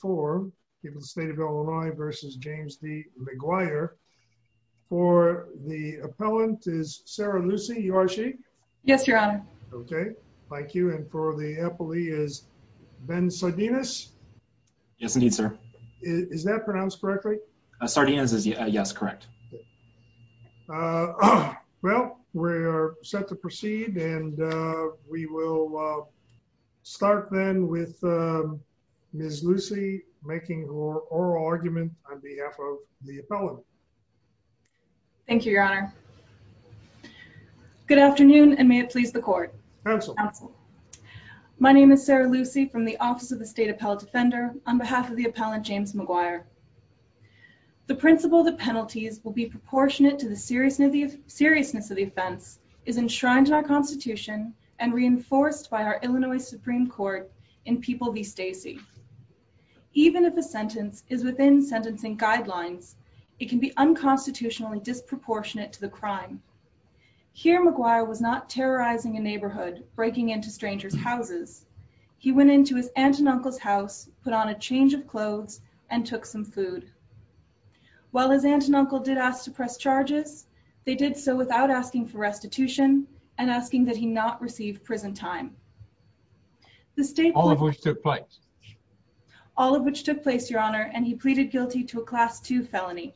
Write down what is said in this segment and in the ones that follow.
for the state of Illinois versus James D. Maguire. For the appellant is Sarah Lucy, you are she? Yes, your honor. Okay, thank you. And for the appellee is Ben Sardinus? Yes, indeed, sir. Is that pronounced correctly? Sardinus is yes, correct. Well, we're set to proceed and we will start then with Ms. Lucy making her oral argument on behalf of the appellant. Thank you, your honor. Good afternoon and may it please the court. My name is Sarah Lucy from the Office of the State Appellate Defender on behalf of the appellant James Maguire. The principle that penalties will be proportionate to the seriousness of the offense is enshrined in our constitution and reinforced by our Illinois Supreme Court in People v. Stacey. Even if a sentence is within sentencing guidelines, it can be unconstitutionally disproportionate to the crime. Here, Maguire was not terrorizing a neighborhood, breaking into strangers' houses. He went into his aunt and uncle's house, put on a change of clothes, and took some. food. While his aunt and uncle did ask to press charges, they did so without asking for restitution and asking that he not receive prison time. All of which took place. All of which took place, your honor, and he pleaded guilty to a class two felony.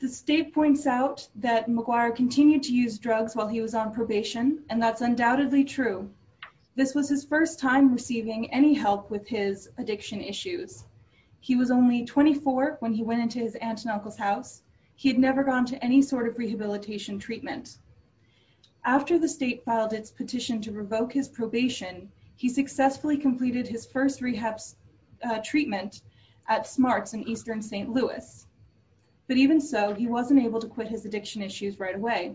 The state points out that Maguire continued to use drugs while he was on probation and that's When he went into his aunt and uncle's house, he had never gone to any sort of rehabilitation treatment. After the state filed its petition to revoke his probation, he successfully completed his first rehab treatment at Smarts in Eastern St. Louis. But even so, he wasn't able to quit his addiction issues right away.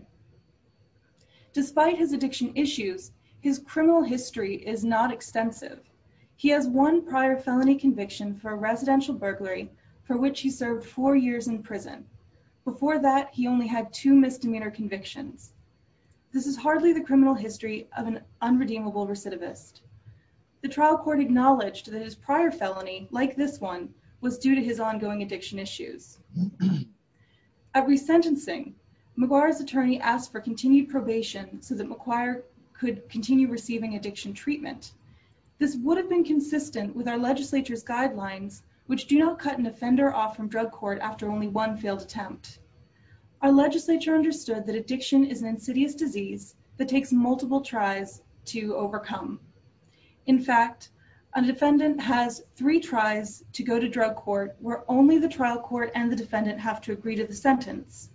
Despite his addiction issues, his criminal history is not extensive. He has one prior felony conviction for residential burglary, for which he served four years in prison. Before that, he only had two misdemeanor convictions. This is hardly the criminal history of an unredeemable recidivist. The trial court acknowledged that his prior felony, like this one, was due to his ongoing addiction issues. At resentencing, Maguire's attorney asked for continued probation so that Maguire could continue receiving addiction treatment. This would have been consistent with our legislature's guidelines, which do not cut an offender off from drug court after only one failed attempt. Our legislature understood that addiction is an insidious disease that takes multiple tries to overcome. In fact, a defendant has three tries to go to drug court, where only the trial court and the defendant have to agree to the sentence.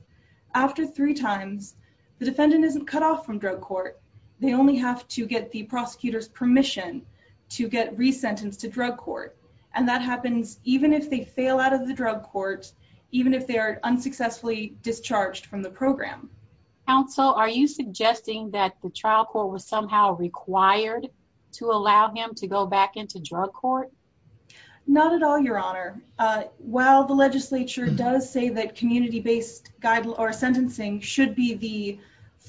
After three times, the defendant isn't cut off from drug court. They only have to get the prosecutor's permission to get resentenced to drug court. And that happens even if they fail out of the drug court, even if they are unsuccessfully discharged from the program. Counsel, are you suggesting that the trial court was somehow required to allow him to go back into drug court? Not at all, Your Honor. While the legislature does say that community-based sentencing should be the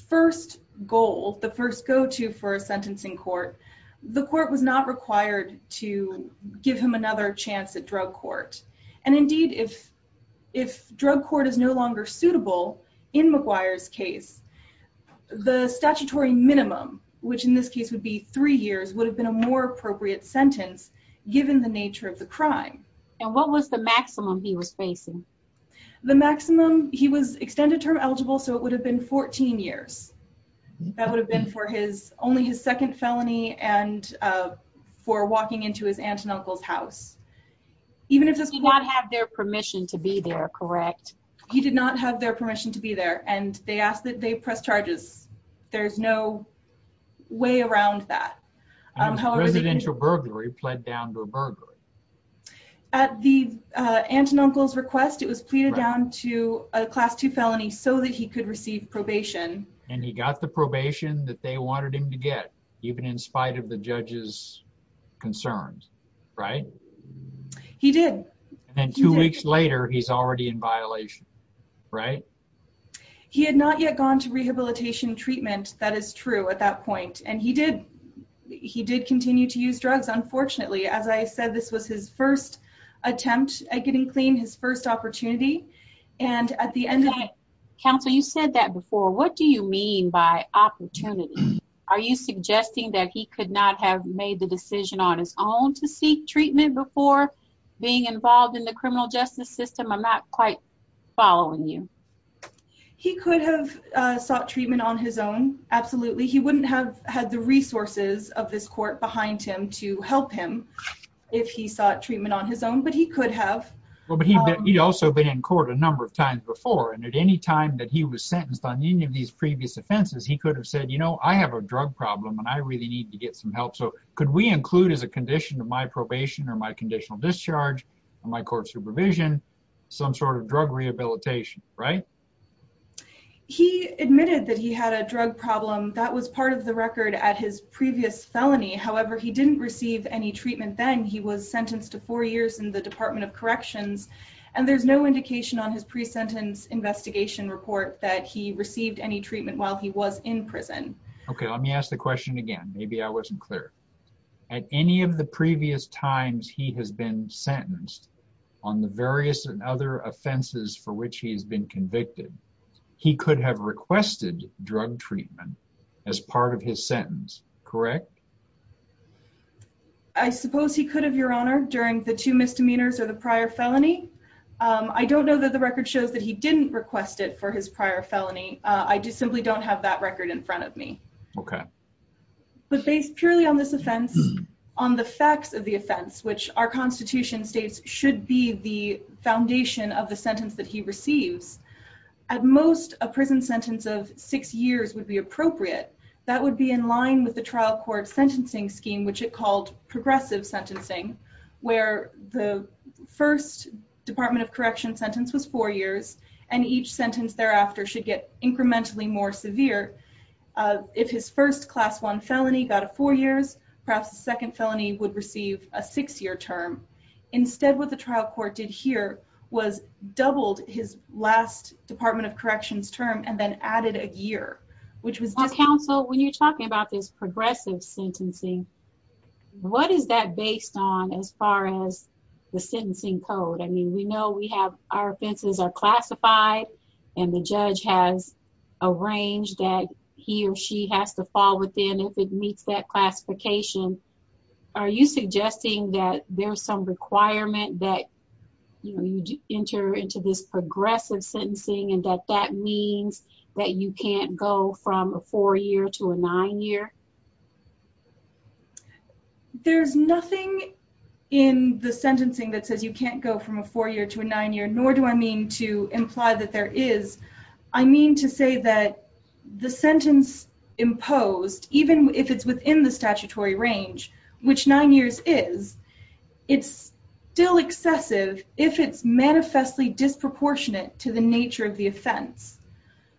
first goal, the first go-to for a sentencing court, the court was not required to give him another chance at drug court. And indeed, if drug court is no longer suitable in Maguire's case, the statutory minimum, which in this case would be three years, would have been a more appropriate sentence given the nature of the crime. And what was the maximum he was facing? The maximum, he was extended term eligible, so it would have been 14 years. That would have been for only his second felony and for walking into his aunt and uncle's house. He did not have their permission to be there, correct? He did not have their permission to be there, and they asked that they press charges. There's no way around that. Residential burglary pled down to a burglary. At the aunt and uncle's request, it was pleaded down to a class two felony so that he could receive probation. And he got the probation that they wanted him to get, even in spite of the judge's concerns, right? He did. And two weeks later, he's already in violation, right? He had not yet gone to rehabilitation treatment. That is true at that point. And he did. He did continue to use drugs. Unfortunately, as I said, this was his first attempt at getting clean, his first opportunity. And at the end of the day... Counsel, you said that before. What do you mean by opportunity? Are you suggesting that he could not have made the decision on his own to seek treatment before being involved in the criminal justice system? I'm not quite following you. He could have sought treatment on his own. Absolutely. He wouldn't have had the resources of this court behind him to help him if he sought treatment on his own. But he could have. Well, but he'd also been in court a number of times before. And at any time that he was sentenced on any of these previous offenses, he could have said, you know, I have a drug problem and I really need to get some help. So could we include as a condition of my probation or my conditional discharge, my court supervision, some sort of drug rehabilitation, right? He admitted that he had a drug problem that was part of the record at his previous felony. However, he didn't receive any treatment then. He was sentenced to four years in the Department of Corrections, and there's no indication on his pre-sentence investigation report that he received any treatment while he was in prison. OK, let me ask the question again. Maybe I wasn't clear. At any of the previous times he has been sentenced on the various and other offenses for which he has been convicted, he could have requested drug treatment as part of his sentence, correct? I suppose he could have, Your Honor, during the two misdemeanors or the prior felony. I don't know that the record shows that he didn't request it for his prior felony. I just simply don't have that record in front of me. OK. But based purely on this offense, on the facts of the offense, which our Constitution states should be the foundation of the sentence that he receives, at most, a prison sentence of six years would be appropriate. That would be in line with the trial court sentencing scheme, which it called progressive sentencing, where the first Department of Corrections sentence was four years and each incrementally more severe. If his first class one felony got a four years, perhaps the second felony would receive a six-year term. Instead, what the trial court did here was doubled his last Department of Corrections term and then added a year, which was just... Counsel, when you're talking about this progressive sentencing, what is that based on as far as the sentencing code? I mean, we know our offenses are classified and the judge has arranged that he or she has to fall within if it meets that classification. Are you suggesting that there's some requirement that you enter into this progressive sentencing and that that means that you can't go from a four-year to a nine-year? There's nothing in the sentencing that says you can't go from a four-year to a nine-year, nor do I mean to imply that there is. I mean to say that the sentence imposed, even if it's within the statutory range, which nine years is, it's still excessive if it's manifestly disproportionate to the nature of the offense.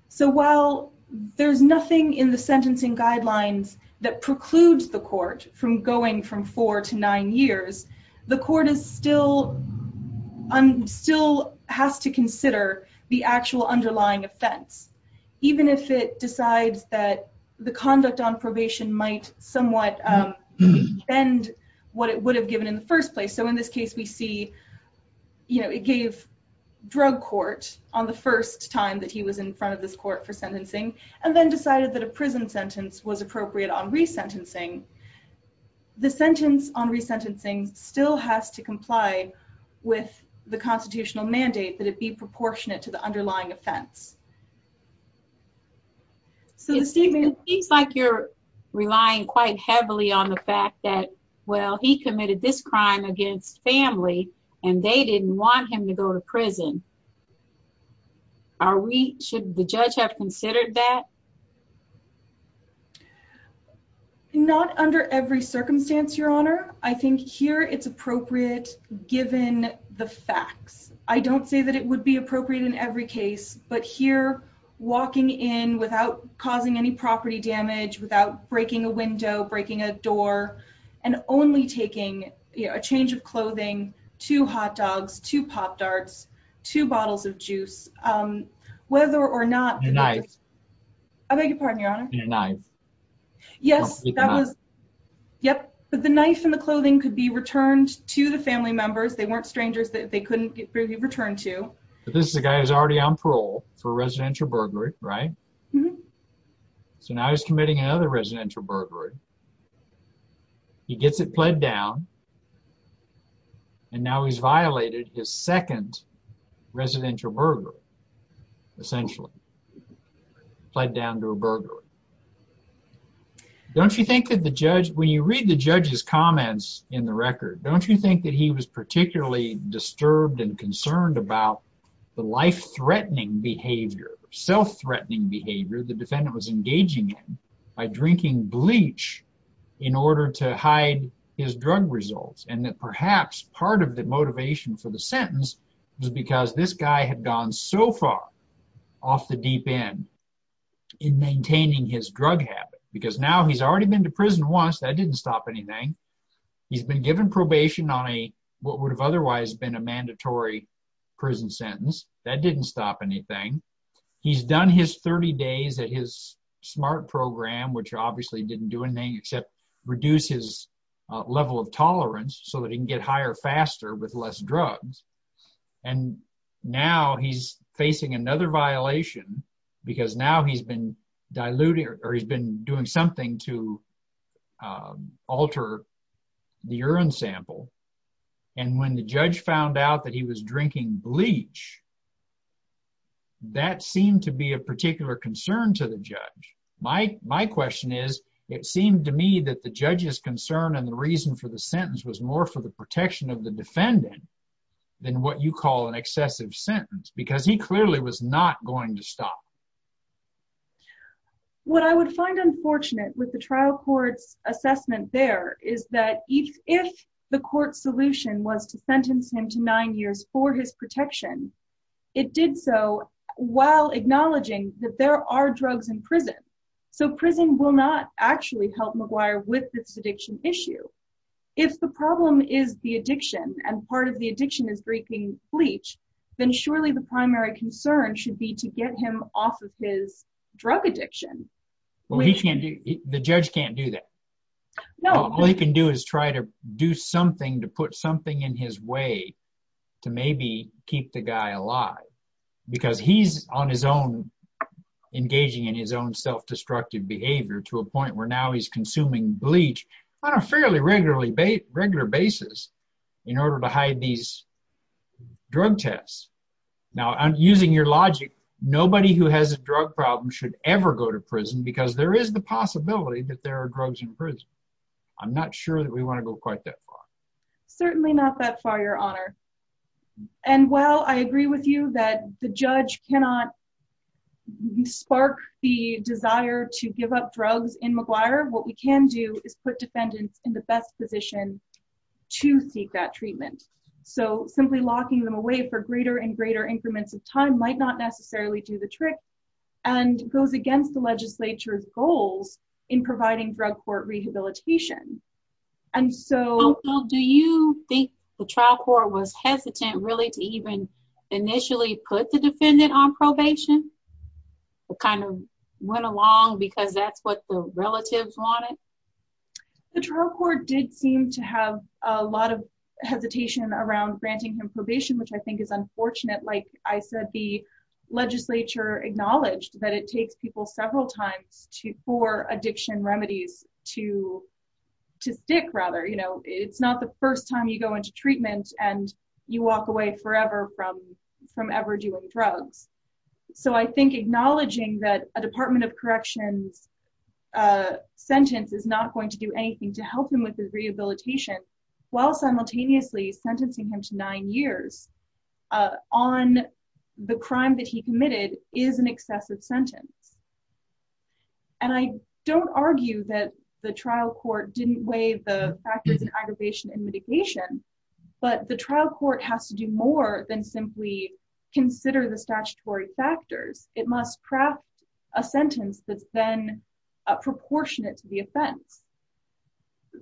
So while there's nothing in the sentencing guidelines that precludes the court from going from four to nine years, the court still has to consider the actual underlying offense, even if it decides that the conduct on probation might somewhat bend what it would have given in the first place. So in this case, we see it gave drug court on the first time that he was in front of this court for sentencing and then decided that a prison sentence was appropriate on resentencing. The sentence on resentencing still has to comply with the constitutional mandate that it be proportionate to the underlying offense. So the statement... It seems like you're relying quite heavily on the fact that, well, he committed this crime against family and they didn't want him to go to prison. Are we, should the judge have considered that? Not under every circumstance, Your Honor. I think here it's appropriate given the facts. I don't say that it would be appropriate in every case, but here walking in without causing any property damage, without breaking a window, breaking a door, and only taking a change of clothing, two hot dogs, two pop darts, two bottles of juice, whether or not... Nice. I beg your pardon, Your Honor. And a knife. Yes, that was, yep, but the knife and the clothing could be returned to the family members. They weren't strangers that they couldn't be returned to. This is a guy who's already on parole for residential burglary, right? So now he's committing another residential burglary. He gets it pled down and now he's violated his second residential burglary, essentially. Pled down to a burglary. Don't you think that the judge, when you read the judge's comments in the record, don't you think that he was particularly disturbed and concerned about the life-threatening behavior, self-threatening behavior the defendant was engaging in by drinking bleach in order to hide his drug results and that perhaps part of the motivation for the sentence was because this guy had gone so far off the deep end in maintaining his drug habit? Because now he's already been to prison once. That didn't stop anything. He's been given probation on a what would have otherwise been a mandatory prison sentence. That didn't stop anything. He's done his 30 days at his SMART program, which obviously didn't do anything except reduce his level of tolerance so that he can get higher faster with less drugs. And now he's facing another violation because now he's been diluting or he's been doing something to alter the urine sample. And when the judge found out that he was drinking bleach, that seemed to be a particular concern to the judge. My question is, it seemed to me that the judge's concern and the reason for the sentence was more for the protection of the defendant than what you call an excessive sentence because he clearly was not going to stop. What I would find unfortunate with the trial court's assessment there is that if the court's solution was to sentence him to nine years for his protection, it did so while acknowledging that there are drugs in prison. So prison will not actually help McGuire with this addiction issue. If the problem is the addiction and part of the addiction is drinking bleach, then surely the primary concern should be to get him off of his drug addiction. The judge can't do that. All he can do is try to do something to put something in his way to maybe keep the guy alive because he's on his own, engaging in his own self-destructive behavior to a point where now he's consuming bleach on a fairly regular basis in order to hide these drug tests. Now, using your logic, nobody who has a drug problem should ever go to prison because there is the possibility that there are drugs in prison. I'm not sure that we want to go quite that far. Certainly not that far, your honor. And while I agree with you that the judge cannot spark the desire to give up drugs in McGuire, what we can do is put defendants in the best position to seek that treatment. So simply locking them away for greater and greater increments of time might not necessarily do the trick and goes against the legislature's goals in providing drug court rehabilitation. Also, do you think the trial court was hesitant really to even initially put the defendant on probation? It kind of went along because that's what the relatives wanted? The trial court did seem to have a lot of hesitation around granting him probation, which I think is unfortunate. Like I said, the legislature acknowledged that it takes people several times for addiction remedies to stick. It's not the first time you go into from ever doing drugs. So I think acknowledging that a department of corrections sentence is not going to do anything to help him with his rehabilitation while simultaneously sentencing him to nine years on the crime that he committed is an excessive sentence. And I don't argue that the trial court didn't weigh the factors of aggravation and mitigation, but the trial court has to do more than simply consider the statutory factors. It must craft a sentence that's then proportionate to the offense.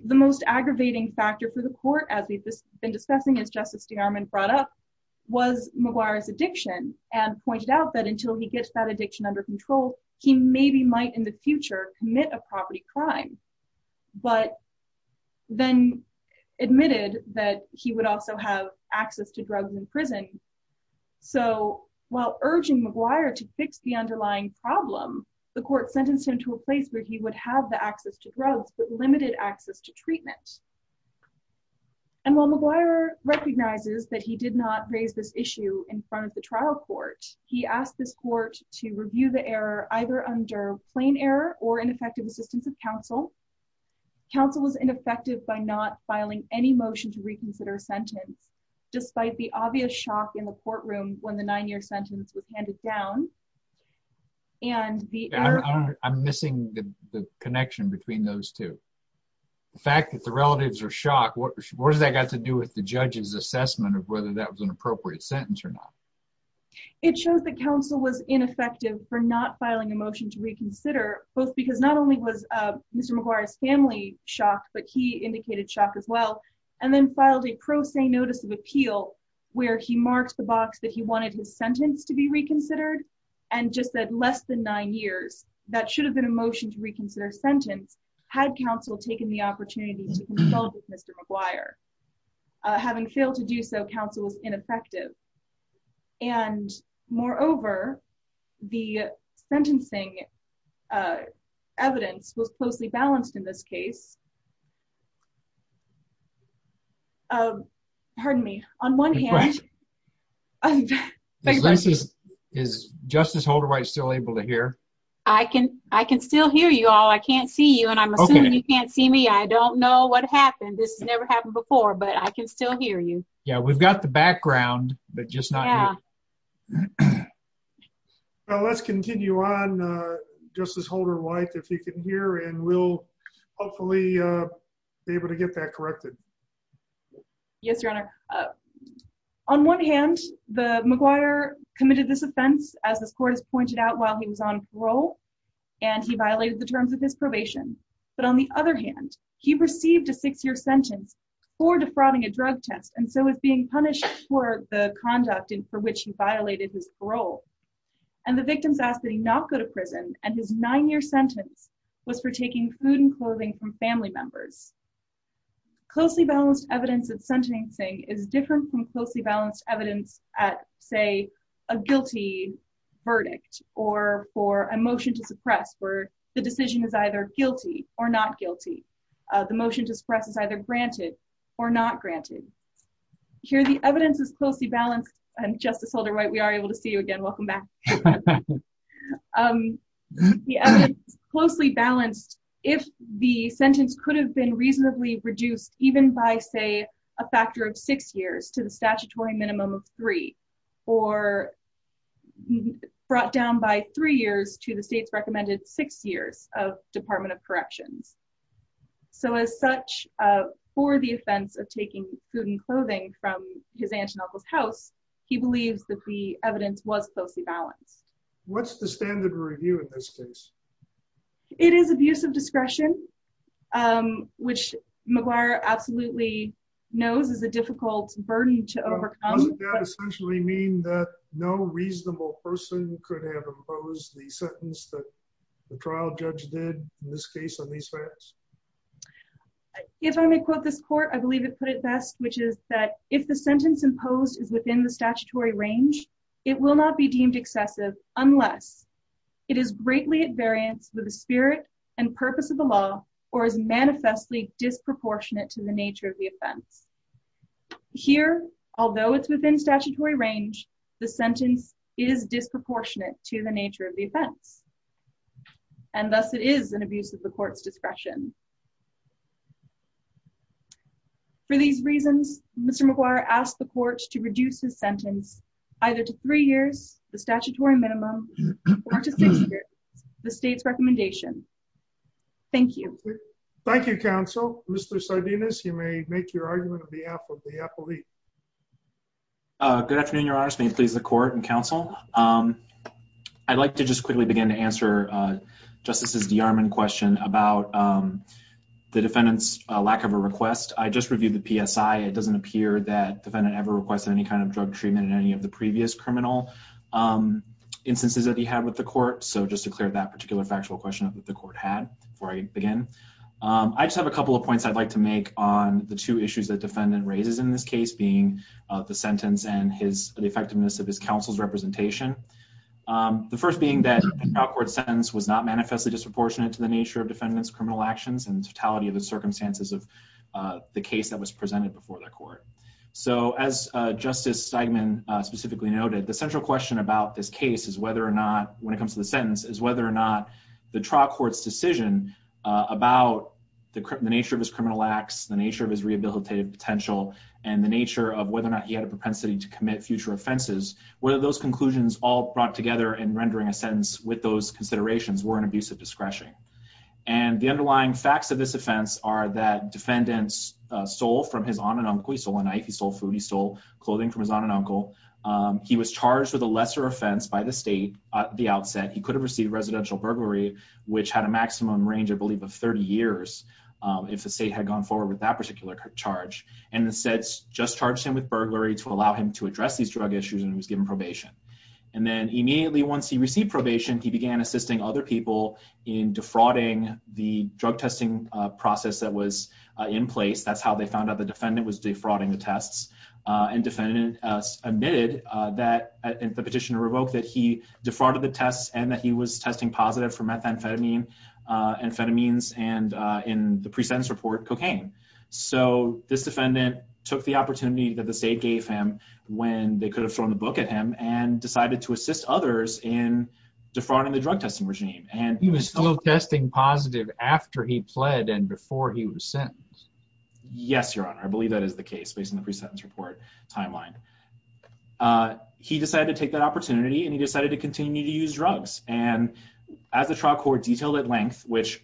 The most aggravating factor for the court, as we've been discussing as Justice DeArmond brought up, was McGuire's addiction and pointed out that until he gets that addiction under control, he maybe might in the future commit a property crime, but then admitted that he would also have access to drugs in prison. So while urging McGuire to fix the underlying problem, the court sentenced him to a place where he would have the access to drugs, but limited access to treatment. And while McGuire recognizes that he did not raise this issue in front of the trial court, he asked this court to review the error either under plain error or ineffective assistance of counsel. Counsel was ineffective by not filing any motion to reconsider a sentence, despite the obvious shock in the courtroom when the nine-year sentence was handed down. I'm missing the connection between those two. The fact that the relatives are shocked, what does that got to do with the judge's assessment of whether that was an appropriate sentence or not? It shows that counsel was ineffective for not filing a motion to reconsider, both because not only was Mr. McGuire's family shocked, but he indicated shock as well, and then filed a pro se notice of appeal where he marked the box that he wanted his sentence to be reconsidered and just said less than nine years. That should have been a motion to reconsider a sentence, had counsel taken the opportunity to consult with Mr. McGuire. Having failed to do so, counsel was ineffective. And moreover, the sentencing evidence was closely balanced in this case. Pardon me. On one hand... Is Justice Holderwhite still able to hear? I can still hear you all. I can't see you, and I'm assuming you can't see me. I don't know what happened. This has never happened before, but I can still hear you. Yeah, we've got the background, but just not... Well, let's continue on, Justice Holderwhite, if you can hear, and we'll hopefully be able to get that corrected. Yes, Your Honor. On one hand, the McGuire committed this offense, as this court has pointed out, while he was on parole, and he violated the terms of his drug test, and so was being punished for the conduct for which he violated his parole. And the victims asked that he not go to prison, and his nine-year sentence was for taking food and clothing from family members. Closely balanced evidence at sentencing is different from closely balanced evidence at, say, a guilty verdict or for a motion to suppress, where the granted. Here, the evidence is closely balanced, and Justice Holderwhite, we are able to see you again. Welcome back. The evidence is closely balanced if the sentence could have been reasonably reduced even by, say, a factor of six years to the statutory minimum of three, or brought down by three years to the state's recommended six years of Department of Food and Clothing from his aunt's and uncle's house. He believes that the evidence was closely balanced. What's the standard review in this case? It is abuse of discretion, which McGuire absolutely knows is a difficult burden to overcome. Doesn't that essentially mean that no reasonable person could have opposed the sentence that the trial judge did in this case on these facts? If I may quote this court, I believe it put it best, which is that if the sentence imposed is within the statutory range, it will not be deemed excessive unless it is greatly at variance with the spirit and purpose of the law or is manifestly disproportionate to the nature of the offense. Here, although it's within statutory range, the sentence is disproportionate to the nature of the offense, and thus it is an abuse of the court's discretion. For these reasons, Mr. McGuire asked the court to reduce his sentence either to three years, the statutory minimum, or to six years, the state's recommendation. Thank you. Thank you, counsel. Mr. Sardinus, you may make your argument on behalf of the appellee. Good afternoon, Your Honors. May it please the court and counsel. I'd like to just quickly begin to answer Justice DeArmond's question about the defendant's lack of a request. I just reviewed the PSI. It doesn't appear that defendant ever requested any kind of drug treatment in any of the previous criminal instances that he had with the court, so just to clear that particular factual question that the court had before I begin. I just have a couple of points I'd like make on the two issues that defendant raises in this case, being the sentence and the effectiveness of his counsel's representation. The first being that the trial court sentence was not manifestly disproportionate to the nature of defendant's criminal actions and totality of the circumstances of the case that was presented before the court. So as Justice Steigman specifically noted, the central question about this case is whether or not, when it comes to the sentence, is whether or not the trial court's decision about the nature of his criminal acts, the nature of his rehabilitative potential, and the nature of whether or not he had a propensity to commit future offenses, whether those conclusions all brought together in rendering a sentence with those considerations were an abuse of discretion. And the underlying facts of this offense are that defendants stole from his aunt and uncle. He stole a knife, he stole food, he stole clothing from his the outset. He could have received residential burglary, which had a maximum range, I believe, of 30 years if the state had gone forward with that particular charge, and instead just charged him with burglary to allow him to address these drug issues, and he was given probation. And then immediately once he received probation, he began assisting other people in defrauding the drug testing process that was in place. That's how they found out the defendant was defrauding the tests, and the petitioner revoked that he defrauded the tests and that he was testing positive for methamphetamine, amphetamines, and in the pre-sentence report, cocaine. So this defendant took the opportunity that the state gave him when they could have thrown the book at him and decided to assist others in defrauding the drug testing regime. He was still testing positive after he pled and before he was sentenced. Yes, your honor, I believe that is the case based on the pre-sentence report timeline. He decided to take that opportunity and he decided to continue to use drugs, and as the trial court detailed at length, which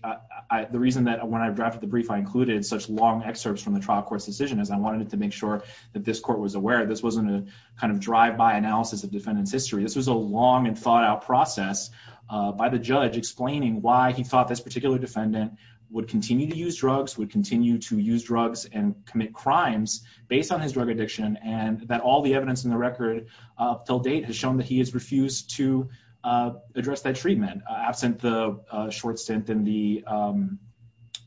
the reason that when I drafted the brief I included such long excerpts from the trial court's decision is I wanted to make sure that this court was aware this wasn't a kind of drive-by analysis of defendant's history. This was a long and thought-out process by the judge explaining why he thought this particular defendant would continue to use drugs, would continue to use drugs and commit crimes based on his drug addiction, and that all the evidence in the record up till date has shown that he has refused to address that treatment absent the short stint in the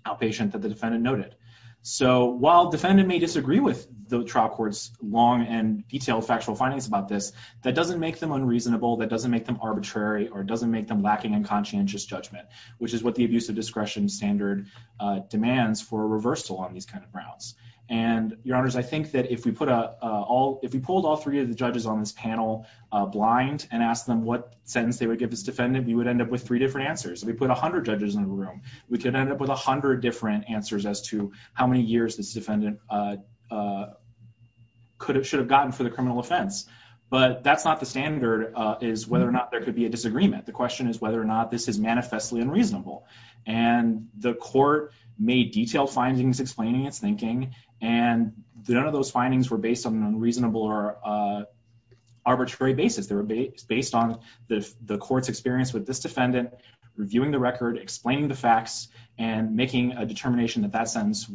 outpatient that the defendant noted. So while defendant may disagree with the trial court's long and detailed factual findings about this, that doesn't make them unreasonable, that doesn't make them arbitrary, or it doesn't make them lacking in conscientious judgment, which is what the abusive discretion standard demands for a reversal on these kind of grounds. And your honors, I think that if we put all, if we pulled all three of the judges on this panel blind and asked them what sentence they would give this defendant, we would end up with three different answers. If we put a hundred judges in the room, we could end up with a hundred different answers as to how many years this defendant could have, should have gotten for the criminal offense. But that's not the standard, is whether or not there could be a disagreement. The question is whether or not this is manifestly unreasonable. And the court made detailed findings explaining its thinking, and none of those findings were based on an unreasonable or arbitrary basis. They were based on the court's experience with this defendant, reviewing the record, explaining the facts, and making a determination that that statute.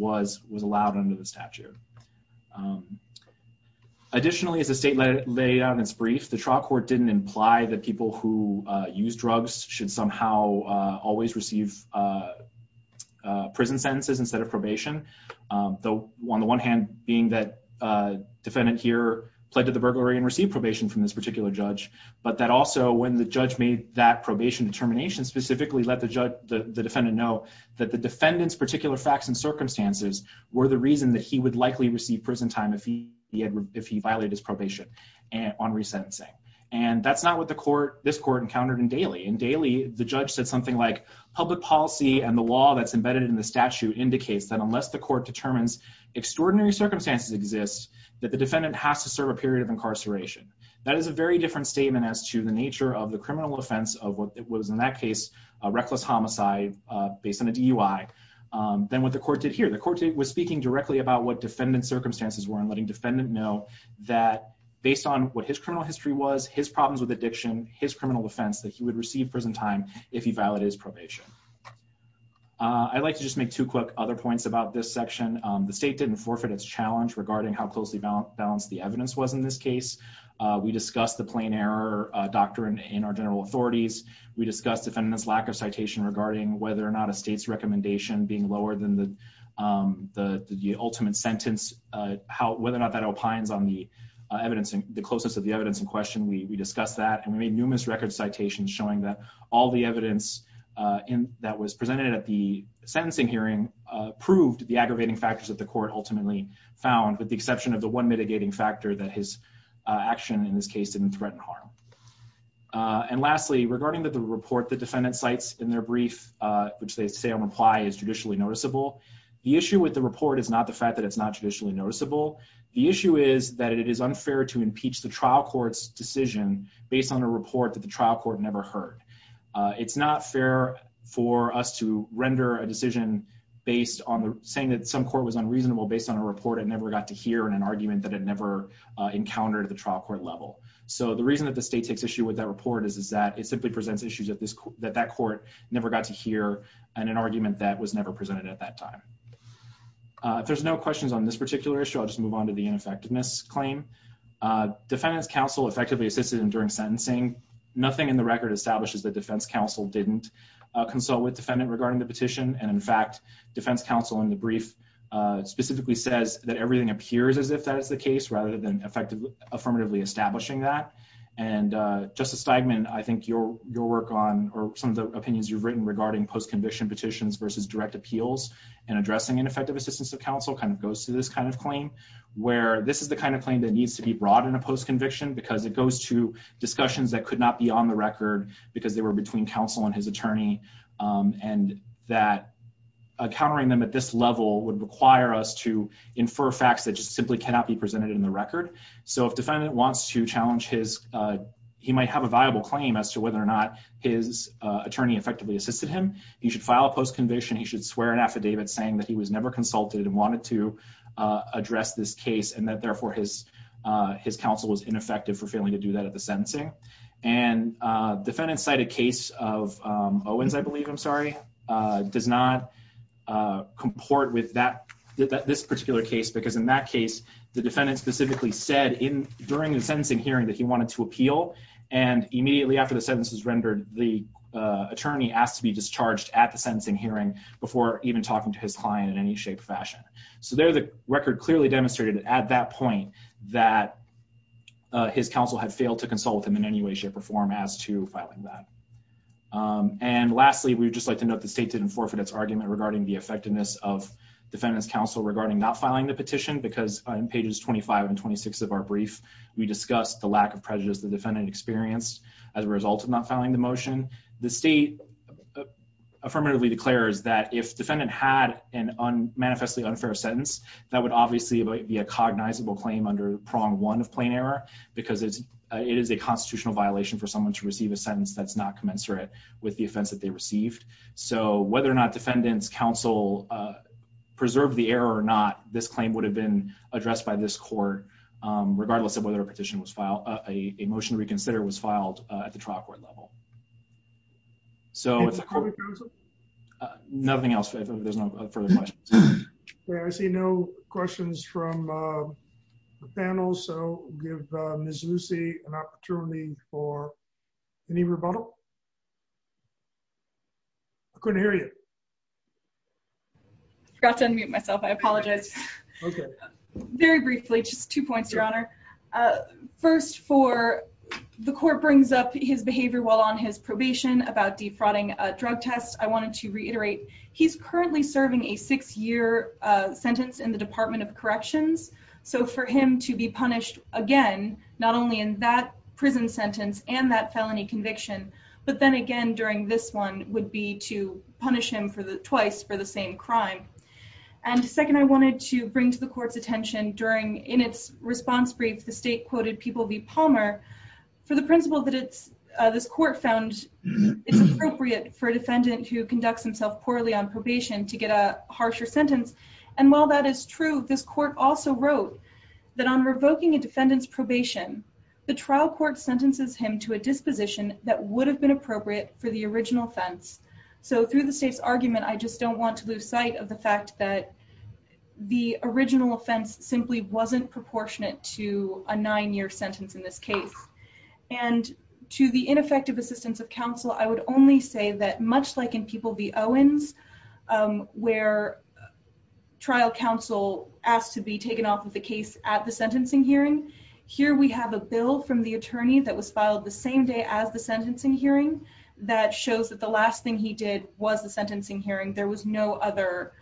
Additionally, as the state laid out in its brief, the trial court didn't imply that people who use drugs should somehow always receive prison sentences instead of probation. On the one hand, being that defendant here pled to the burglary and received probation from this particular judge, but that also when the judge made that probation determination, specifically let the judge, the defendant know that the defendant's particular facts and circumstances were the reason that he would likely receive prison time if he had, if he violated his probation on resentencing. And that's not what the court, this court encountered in Daley. In Daley, the judge said something like, public policy and the law that's embedded in the statute indicates that unless the court determines extraordinary circumstances exist, that the defendant has to serve a period of incarceration. That is a very different statement as to the nature of the criminal offense of what was in that case, a reckless homicide based on a DUI, than what the court was speaking directly about what defendant circumstances were and letting defendant know that based on what his criminal history was, his problems with addiction, his criminal defense, that he would receive prison time if he violated his probation. I'd like to just make two quick other points about this section. The state didn't forfeit its challenge regarding how closely balanced the evidence was in this case. We discussed the plain error doctrine in our general authorities. We discussed defendant's lack of citation regarding whether or not a the ultimate sentence, whether or not that opines on the evidence, the closeness of the evidence in question. We discussed that and we made numerous record citations showing that all the evidence that was presented at the sentencing hearing proved the aggravating factors that the court ultimately found with the exception of the one mitigating factor that his action in this case didn't threaten harm. And lastly, regarding the report the defendant cites in their brief, which they say on reply is judicially noticeable. The issue with the report is not the fact that it's not traditionally noticeable. The issue is that it is unfair to impeach the trial court's decision based on a report that the trial court never heard. It's not fair for us to render a decision based on the saying that some court was unreasonable based on a report it never got to hear in an argument that it never encountered at the trial court level. So the reason that the state takes issue with that report is that it simply presents issues that that court never got to hear in an argument that was never presented at that time. If there's no questions on this particular issue, I'll just move on to the ineffectiveness claim. Defendant's counsel effectively assisted in during sentencing. Nothing in the record establishes that defense counsel didn't consult with defendant regarding the petition. And in fact, defense counsel in the brief specifically says that everything appears as if that is the case rather than effectively affirmatively establishing that. And Justice Steigman, I think your work on or some of the opinions you've written regarding post-conviction petitions versus direct appeals and addressing ineffective assistance of counsel kind of goes to this kind of claim where this is the kind of claim that needs to be brought in a post-conviction because it goes to discussions that could not be on the record because they were between counsel and his attorney and that countering them at this level would require us to infer facts that just simply cannot be presented in the record. So if defendant wants to challenge his, he might have a viable claim as to whether or not his attorney effectively assisted him. He should file a post-conviction. He should swear an affidavit saying that he was never consulted and wanted to address this case and that therefore his counsel was ineffective for failing to do that at the sentencing. And defendant cited case of Owens, I believe, I'm sorry, does not comport with this particular case because in that case, the defendant specifically said during the sentencing hearing that he wanted to appeal and immediately after the sentence was rendered, the attorney asked to be discharged at the sentencing hearing before even talking to his client in any shape or fashion. So there the record clearly demonstrated at that point that his counsel had failed to consult with him in any way shape or form as to filing that. And lastly, we would just like to note the state didn't forfeit its argument regarding the effectiveness of defendant's counsel regarding not filing the petition because on pages 25 and 26 of our brief, we discussed the lack of prejudice the defendant experienced as a result of not filing the motion. The state affirmatively declares that if defendant had an unmanifestly unfair sentence, that would obviously be a cognizable claim under prong one of plain error because it is a constitutional violation for someone to receive a sentence that's not commensurate with the offense that they received. So whether or not defendant's counsel preserved the error or not, this claim would have been addressed by this court, regardless of whether a petition was filed, a motion to reconsider was filed at the trial court level. So nothing else. There's no further questions. I see no questions from the panel. So give Miss Lucy an opportunity for any rebuttal. I couldn't hear you. I forgot to unmute myself. I apologize. Very briefly, just two points, Your Honor. First for the court brings up his behavior while on his probation about defrauding a drug test. I wanted to reiterate he's currently serving a six year sentence in the Department of Corrections. So for him to be punished again, not only in that prison sentence and that felony conviction, but then again, during this one would be to punish him for the twice for the same crime. And second, I wanted to bring to the court's attention during in its response brief, the state quoted people be Palmer for the principle that it's this court found it's appropriate for a defendant who conducts himself poorly on probation to get a harsher sentence. And while that is true, this court also wrote that on revoking a defendant's probation, the trial court sentences him to a disposition that would have been appropriate for the original offense. So through the state's argument, I just don't want to lose sight of the fact that the original offense simply wasn't proportionate to a nine year sentence in this case. And to the ineffective assistance of counsel, I would only say that much like in people be Owens, where trial counsel asked to be taken off of the case at the sentencing hearing. Here we have a bill from the attorney that was filed the same day as the sentencing hearing that shows that the last thing he did was the sentencing hearing. There was no other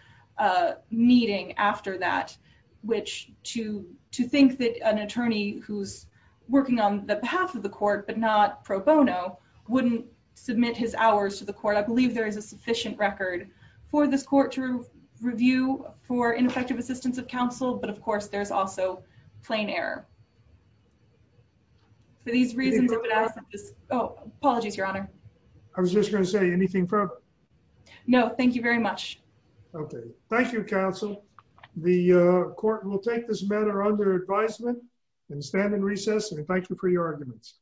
meeting after that, which to think that an attorney who's working on the behalf of the court, but not pro bono wouldn't submit his hours to the court. I believe there is a sufficient record for this court to review for ineffective assistance of counsel. But of course, there's also plain error for these reasons. Oh, apologies, Your Honor. I was just going to say anything. No, thank you very much. Okay. Thank you, counsel. The court will take this matter under advisement and stand in recess. And thank you for your arguments.